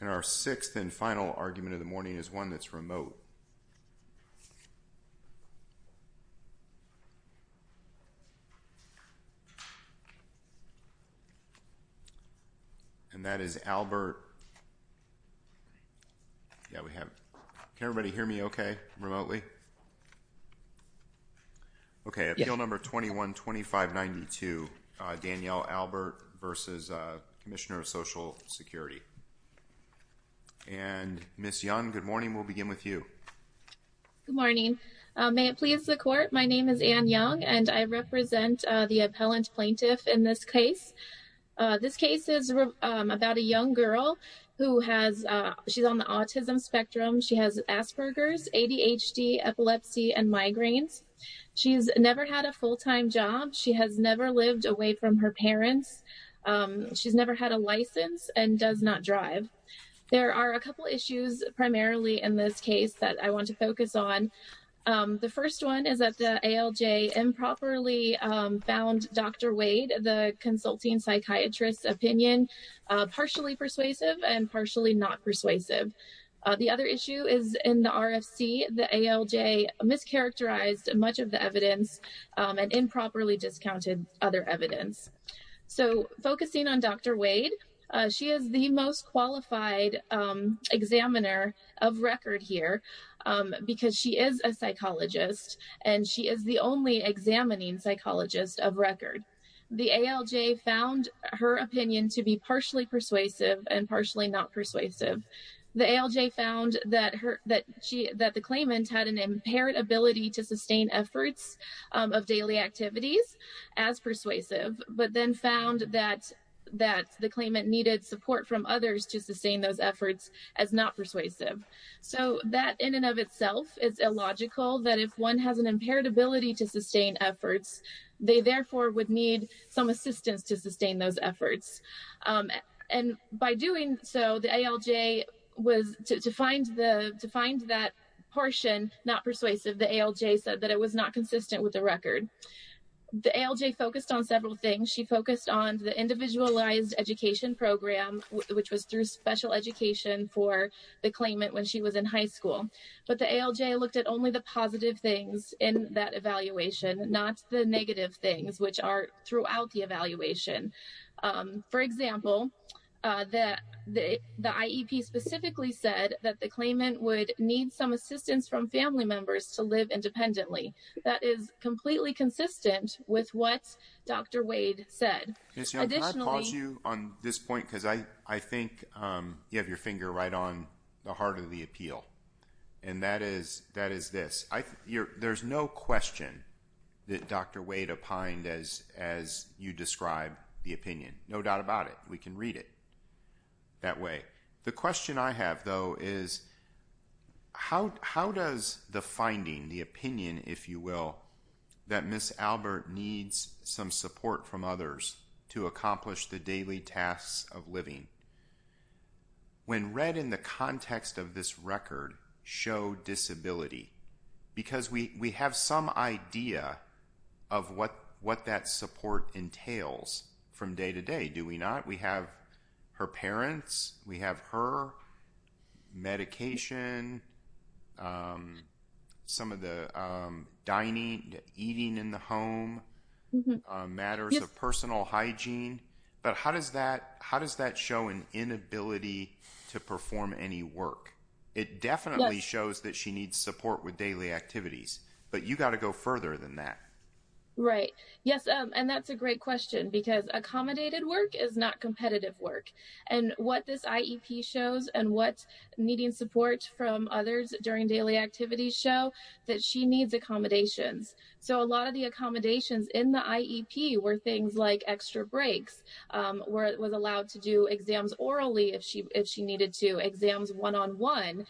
And our sixth and final argument of the morning is one that's remote. And that is Albert, yeah we have, can everybody hear me okay remotely? Okay, Appeal Number 21-2592, Danielle Albert v. Commissioner of Social Security. And Ms. Young, good morning, we'll begin with you. Good morning, may it please the court, my name is Anne Young and I represent the appellant plaintiff in this case. This case is about a young girl who has, she's on the autism spectrum, she has Asperger's, ADHD, epilepsy and migraines. She's never had a full-time job, she has never lived away from her parents, she's never had a license and does not drive. There are a couple issues primarily in this case that I want to focus on. The first one is that the ALJ improperly found Dr. Wade, the consulting psychiatrist's opinion, partially persuasive and partially not persuasive. The other issue is in the RFC, the ALJ mischaracterized much of the evidence and improperly discounted other evidence. So focusing on Dr. Wade, she is the most qualified examiner of record here because she is a psychologist and she is the only examining psychologist of record. The ALJ found her opinion to be partially persuasive and partially not persuasive. The ALJ found that the claimant had an impaired ability to sustain efforts of daily activities as persuasive, but then found that the claimant needed support from others to sustain those efforts as not persuasive. So that in and of itself is illogical that if one has an impaired ability to sustain efforts, they therefore would need some assistance to sustain those efforts. And by doing so, the ALJ was to find that portion not persuasive. The ALJ said that it was not consistent with the record. The ALJ focused on several things. She focused on the individualized education program, which was through special education for the claimant when she was in high school. But the ALJ looked at only the positive things in that evaluation, not the negative things, which are throughout the evaluation. For example, the IEP specifically said that the claimant would need some assistance from family members to live independently. That is completely consistent with what Dr. Wade said. Can I pause you on this point? Because I think you have your finger right on the heart of the appeal. And that is this. There's no question that Dr. Wade opined as you describe the opinion. No doubt about it. We can read it that way. The question I have, though, is how does the finding, the opinion, if you will, that Ms. Albert needs some support from others to accomplish the daily tasks of living, when read in the context of this record, show disability? Because we have some idea of what that support entails from day to day, do we not? We have her parents, we have her, medication, some of the dining, eating in the home, matters of personal hygiene. But how does that show an inability to perform any work? It definitely shows that she needs support with daily activities. But you've got to go further than that. Right. Yes, and that's a great question, because accommodated work is not competitive work. And what this IEP shows and what needing support from others during daily activities show, that she needs accommodations. So a lot of the accommodations in the IEP were things like extra breaks, where it was allowed to do exams orally if she needed to, exams one-on-one.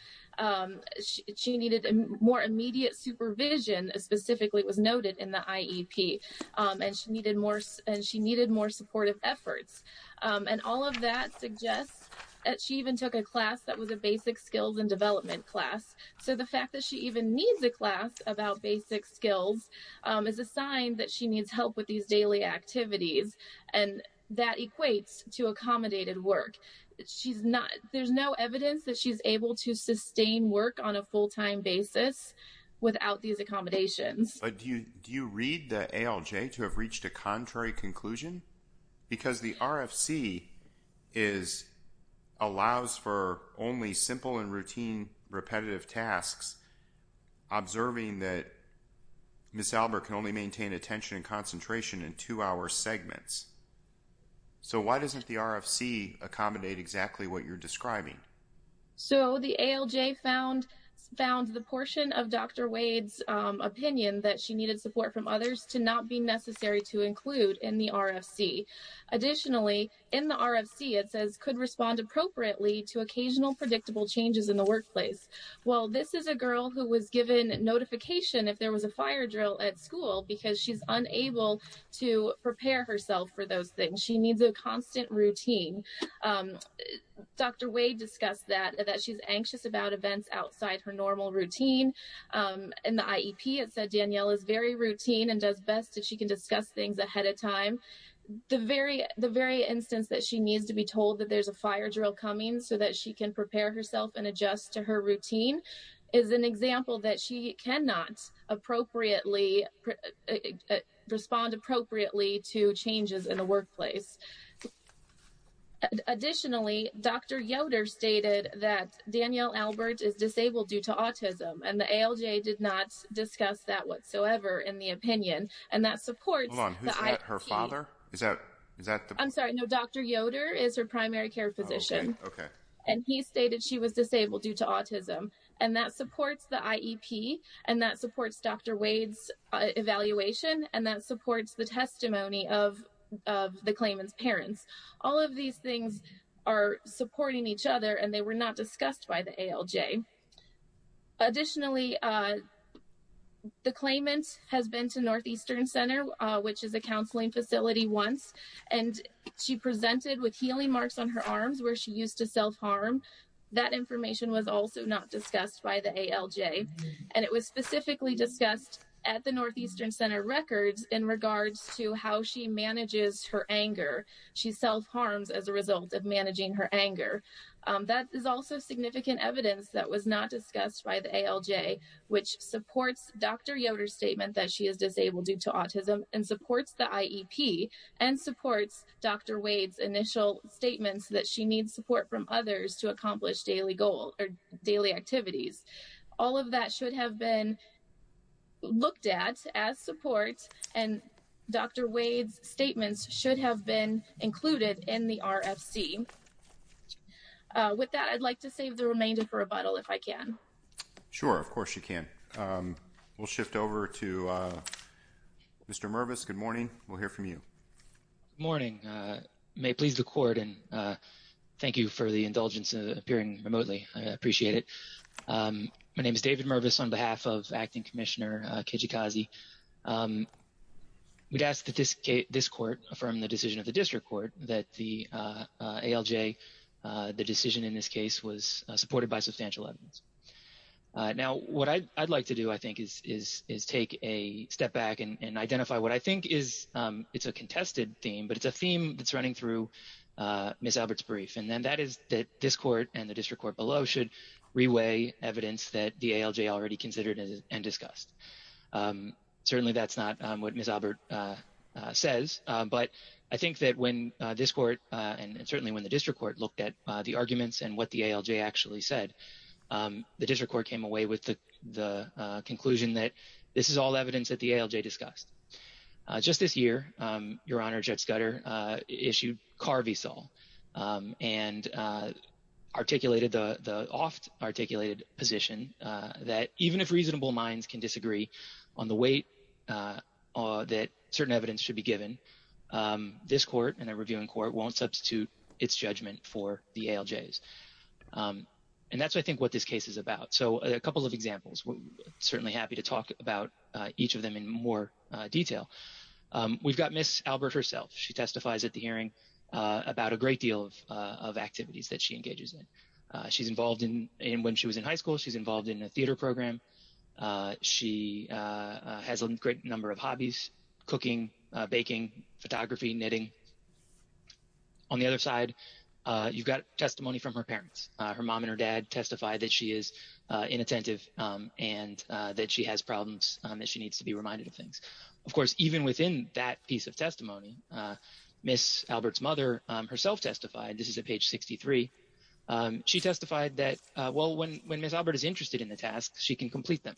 She needed more immediate supervision, specifically was noted in the IEP, and she needed more supportive efforts. And all of that suggests that she even took a class that was a basic skills and development class. So the fact that she even needs a class about basic skills is a sign that she needs help with these daily activities. And that equates to accommodated work. There's no evidence that she's able to sustain work on a full-time basis without these accommodations. But do you read the ALJ to have reached a contrary conclusion? Because the RFC allows for only simple and routine repetitive tasks, observing that Ms. Albert can only maintain attention and concentration in two-hour segments. So why doesn't the RFC accommodate exactly what you're describing? So the ALJ found the portion of Dr. Wade's opinion that she needed support from others to not be necessary to include in the RFC. Additionally, in the RFC, it says could respond appropriately to occasional predictable changes in the workplace. Well, this is a girl who was given notification if there was a fire drill at school because she's unable to prepare herself for those things. She needs a constant routine. Dr. Wade discussed that, that she's anxious about events outside her normal routine. In the IEP, it said Danielle is very routine and does best if she can discuss things ahead of time. So the very instance that she needs to be told that there's a fire drill coming so that she can prepare herself and adjust to her routine is an example that she cannot respond appropriately to changes in the workplace. Additionally, Dr. Yoder stated that Danielle Albert is disabled due to autism, and the ALJ did not discuss that whatsoever in the opinion. Hold on, who's her father? Is that? I'm sorry, no, Dr. Yoder is her primary care physician, and he stated she was disabled due to autism. And that supports the IEP, and that supports Dr. Wade's evaluation, and that supports the testimony of the claimant's parents. All of these things are supporting each other, and they were not discussed by the ALJ. Additionally, the claimant has been to Northeastern Center, which is a counseling facility, once, and she presented with healing marks on her arms where she used to self-harm. That information was also not discussed by the ALJ, and it was specifically discussed at the Northeastern Center records in regards to how she manages her anger. She self-harms as a result of managing her anger. That is also significant evidence that was not discussed by the ALJ, which supports Dr. Yoder's statement that she is disabled due to autism, and supports the IEP, and supports Dr. Wade's initial statements that she needs support from others to accomplish daily activities. All of that should have been looked at as support, and Dr. Wade's statements should have been included in the RFC. With that, I'd like to save the remainder for rebuttal, if I can. Sure, of course you can. We'll shift over to Mr. Mervis. Good morning. We'll hear from you. Good morning. May it please the Court, and thank you for the indulgence in appearing remotely. I appreciate it. My name is David Mervis on behalf of Acting Commissioner Kijikazi. We'd ask that this Court affirm the decision of the District Court that the ALJ, the decision in this case, was supported by substantial evidence. Now, what I'd like to do, I think, is take a step back and identify what I think is a contested theme, but it's a theme that's running through Ms. Albert's brief, and that is that this Court and the District Court below should reweigh evidence that the ALJ already considered and discussed. Certainly that's not what Ms. Albert says, but I think that when this Court, and certainly when the District Court, looked at the arguments and what the ALJ actually said, the District Court came away with the conclusion that this is all evidence that the ALJ discussed. Just this year, Your Honor, Judge Scudder issued car v. sol and articulated the oft-articulated position that even if reasonable minds can disagree on the weight that certain evidence should be given, this Court and the Reviewing Court won't substitute its judgment for the ALJ's. And that's, I think, what this case is about. So a couple of examples. We're certainly happy to talk about each of them in more detail. We've got Ms. Albert herself. She testifies at the hearing about a great deal of activities that she engages in. She's involved in, when she was in high school, she's involved in a theater program. She has a great number of hobbies, cooking, baking, photography, knitting. On the other side, you've got testimony from her parents. Her mom and her dad testify that she is inattentive and that she has problems and that she needs to be reminded of things. Of course, even within that piece of testimony, Ms. Albert's mother herself testified. This is at page 63. She testified that, well, when Ms. Albert is interested in the tasks, she can complete them.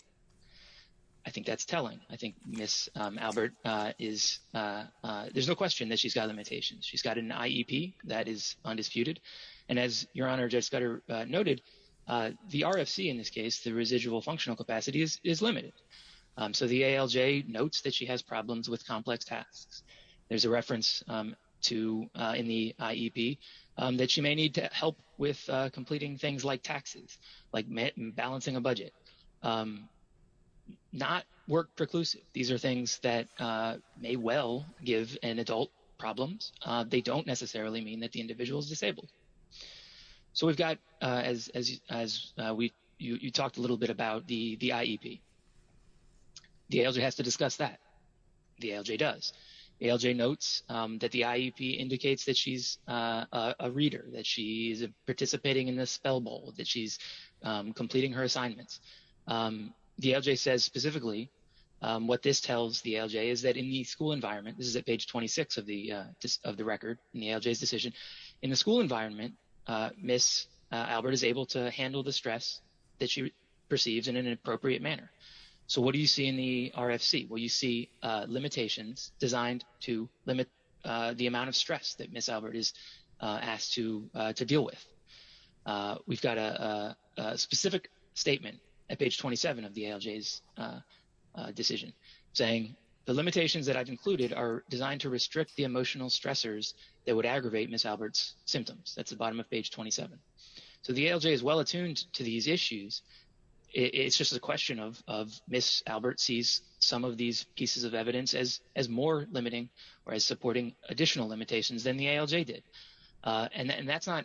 I think that's telling. I think Ms. Albert is, there's no question that she's got limitations. She's got an IEP that is undisputed. And as Your Honor Judge Scudder noted, the RFC in this case, the residual functional capacity, is limited. So the ALJ notes that she has problems with complex tasks. There's a reference to, in the IEP, that she may need to help with completing things like taxes, like balancing a budget. Not work preclusive. These are things that may well give an adult problems. They don't necessarily mean that the individual is disabled. So we've got, as you talked a little bit about, the IEP. The ALJ has to discuss that. The ALJ does. The ALJ notes that the IEP indicates that she's a reader, that she's participating in the Spell Bowl, that she's completing her assignments. The ALJ says specifically, what this tells the ALJ is that in the school environment, this is at page 26 of the record, in the ALJ's decision. In the school environment, Ms. Albert is able to handle the stress that she perceives in an appropriate manner. So what do you see in the RFC? Well, you see limitations designed to limit the amount of stress that Ms. Albert is asked to deal with. We've got a specific statement at page 27 of the ALJ's decision saying, the limitations that I've included are designed to restrict the emotional stressors that would aggravate Ms. Albert's symptoms. That's the bottom of page 27. So the ALJ is well attuned to these issues. It's just a question of Ms. Albert sees some of these pieces of evidence as more limiting or as supporting additional limitations than the ALJ did. And that's not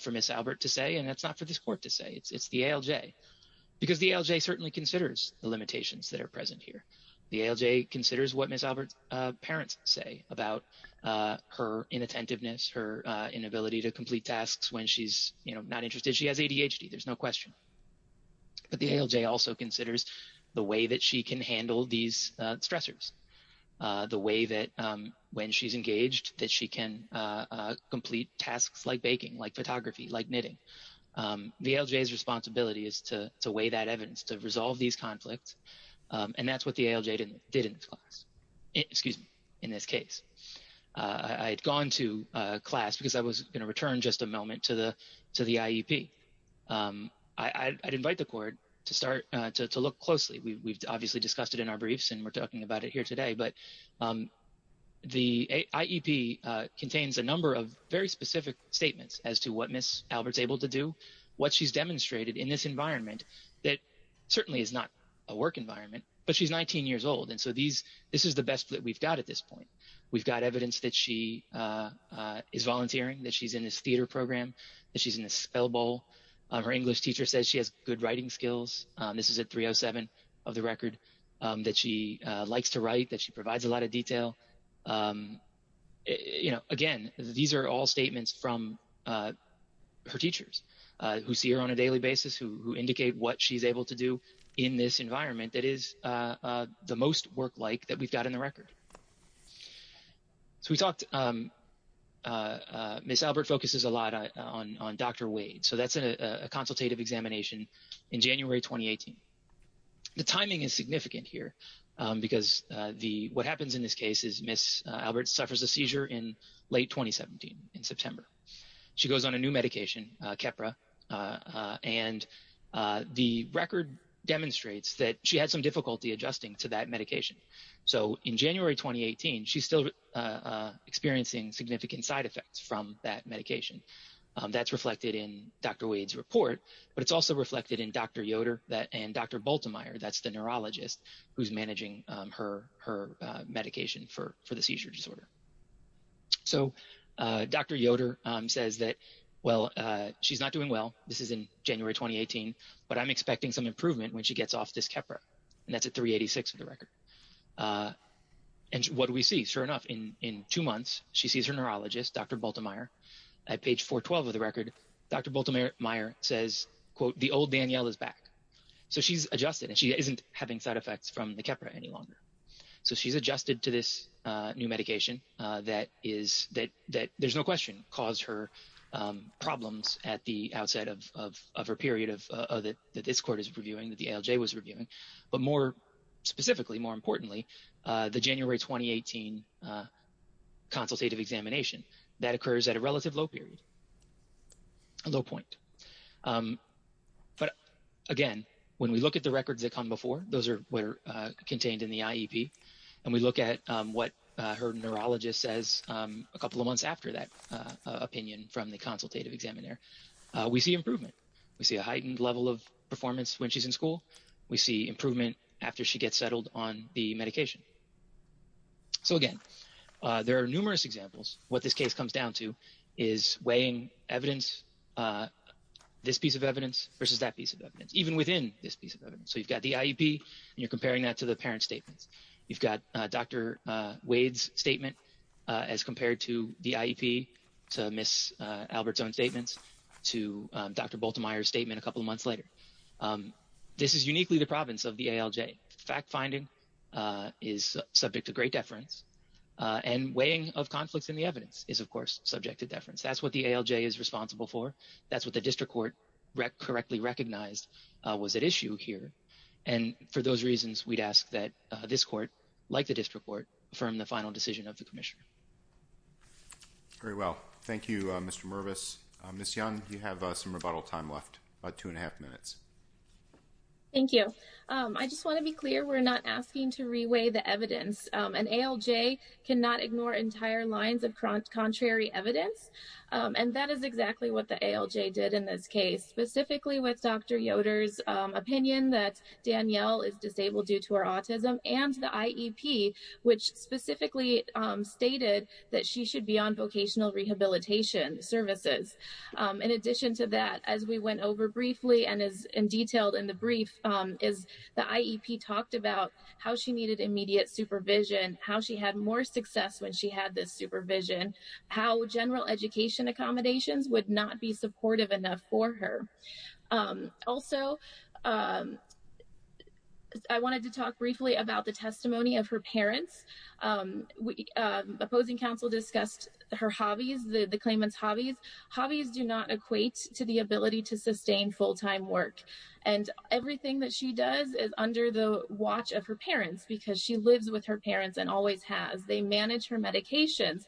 for Ms. Albert to say, and that's not for this court to say. It's the ALJ, because the ALJ certainly considers the limitations that are present here. The ALJ considers what Ms. Albert's parents say about her inattentiveness, her inability to complete tasks when she's not interested. She has ADHD, there's no question. But the ALJ also considers the way that she can handle these stressors, the way that when she's engaged that she can complete tasks like baking, like photography, like knitting. The ALJ's responsibility is to weigh that evidence, to resolve these conflicts, and that's what the ALJ did in this case. I had gone to class because I was going to return just a moment to the IEP. I'd invite the court to start to look closely. We've obviously discussed it in our briefs, and we're talking about it here today. But the IEP contains a number of very specific statements as to what Ms. Albert's able to do, what she's demonstrated in this environment that certainly is not a work environment. But she's 19 years old, and so this is the best that we've got at this point. We've got evidence that she is volunteering, that she's in this theater program, that she's in this spell bowl. Her English teacher says she has good writing skills. This is at 307 of the record, that she likes to write, that she provides a lot of detail. Again, these are all statements from her teachers who see her on a daily basis, who indicate what she's able to do in this environment that is the most work-like that we've got in the record. So we talked – Ms. Albert focuses a lot on Dr. Wade, so that's a consultative examination in January 2018. The timing is significant here because what happens in this case is Ms. Albert suffers a seizure in late 2017, in September. She goes on a new medication, Keppra, and the record demonstrates that she had some difficulty adjusting to that medication. So in January 2018, she's still experiencing significant side effects from that medication. That's reflected in Dr. Wade's report, but it's also reflected in Dr. Yoder and Dr. Bultemeier. That's the neurologist who's managing her medication for the seizure disorder. So Dr. Yoder says that, well, she's not doing well. This is in January 2018, but I'm expecting some improvement when she gets off this Keppra, and that's at 386 of the record. And what do we see? Sure enough, in two months, she sees her neurologist, Dr. Bultemeier. At page 412 of the record, Dr. Bultemeier says, quote, the old Danielle is back. So she's adjusted, and she isn't having side effects from the Keppra any longer. So she's adjusted to this new medication that is – that there's no question caused her problems at the outset of her period that this court is reviewing, that the ALJ was reviewing. But more specifically, more importantly, the January 2018 consultative examination, that occurs at a relative low period, a low point. But again, when we look at the records that come before, those are what are contained in the IEP, and we look at what her neurologist says a couple of months after that opinion from the consultative examiner, we see improvement. We see a heightened level of performance when she's in school. We see improvement after she gets settled on the medication. So again, there are numerous examples. What this case comes down to is weighing evidence, this piece of evidence versus that piece of evidence, even within this piece of evidence. So you've got the IEP, and you're comparing that to the parent statements. You've got Dr. Wade's statement as compared to the IEP, to Ms. Albert's own statements, to Dr. Bultemeier's statement a couple of months later. This is uniquely the province of the ALJ. Fact-finding is subject to great deference, and weighing of conflicts in the evidence is, of course, subject to deference. That's what the ALJ is responsible for. That's what the district court correctly recognized was at issue here. And for those reasons, we'd ask that this court, like the district court, affirm the final decision of the commissioner. Very well. Thank you, Mr. Mervis. Ms. Young, you have some rebuttal time left, about two and a half minutes. Thank you. I just want to be clear, we're not asking to re-weigh the evidence. An ALJ cannot ignore entire lines of contrary evidence, and that is exactly what the ALJ did in this case, specifically with Dr. Yoder's opinion that Danielle is disabled due to her autism, and the IEP, which specifically stated that she should be on vocational rehabilitation services. In addition to that, as we went over briefly, and as detailed in the brief, is the IEP talked about how she needed immediate supervision, how she had more success when she had this supervision, how general education accommodations would not be supportive enough for her. Also, I wanted to talk briefly about the testimony of her parents. Opposing counsel discussed her hobbies, the claimant's hobbies. Hobbies do not equate to the ability to sustain full-time work, and everything that she does is under the watch of her parents because she lives with her parents and always has. They manage her medications.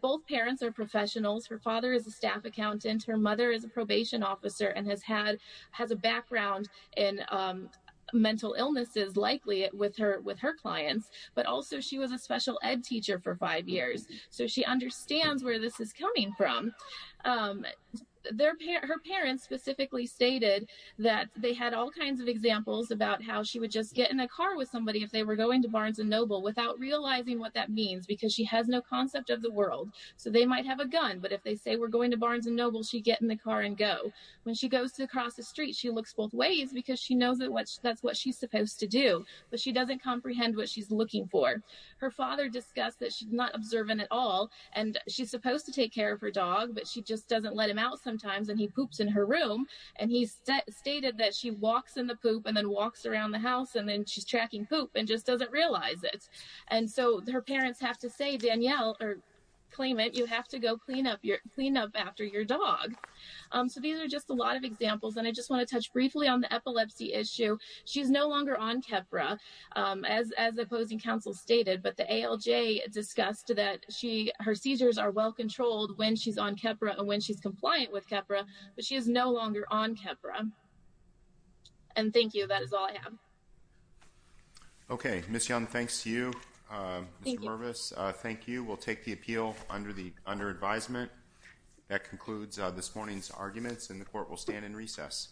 Both parents are professionals. Her father is a staff accountant. Her mother is a probation officer and has a background in mental illnesses, likely with her clients, but also she was a special ed teacher for five years, so she understands where this is coming from. Her parents specifically stated that they had all kinds of examples about how she would just get in a car with somebody if they were going to Barnes & Noble without realizing what that means because she has no concept of the world. They might have a gun, but if they say we're going to Barnes & Noble, she'd get in the car and go. When she goes to cross the street, she looks both ways because she knows that's what she's supposed to do, but she doesn't comprehend what she's looking for. Her father discussed that she's not observant at all, and she's supposed to take care of her dog, but she just doesn't let him out sometimes, and he poops in her room. He stated that she walks in the poop and then walks around the house, and then she's tracking poop and just doesn't realize it. Her parents have to claim it. You have to go clean up after your dog. These are just a lot of examples, and I just want to touch briefly on the epilepsy issue. She's no longer on Keppra, as the opposing counsel stated, but the ALJ discussed that her seizures are well-controlled when she's on Keppra and when she's compliant with Keppra, but she is no longer on Keppra. Thank you. That is all I have. Okay, Ms. Young, thanks to you. Thank you. Mr. Mervis, thank you. We'll take the appeal under advisement. That concludes this morning's arguments, and the court will stand in recess.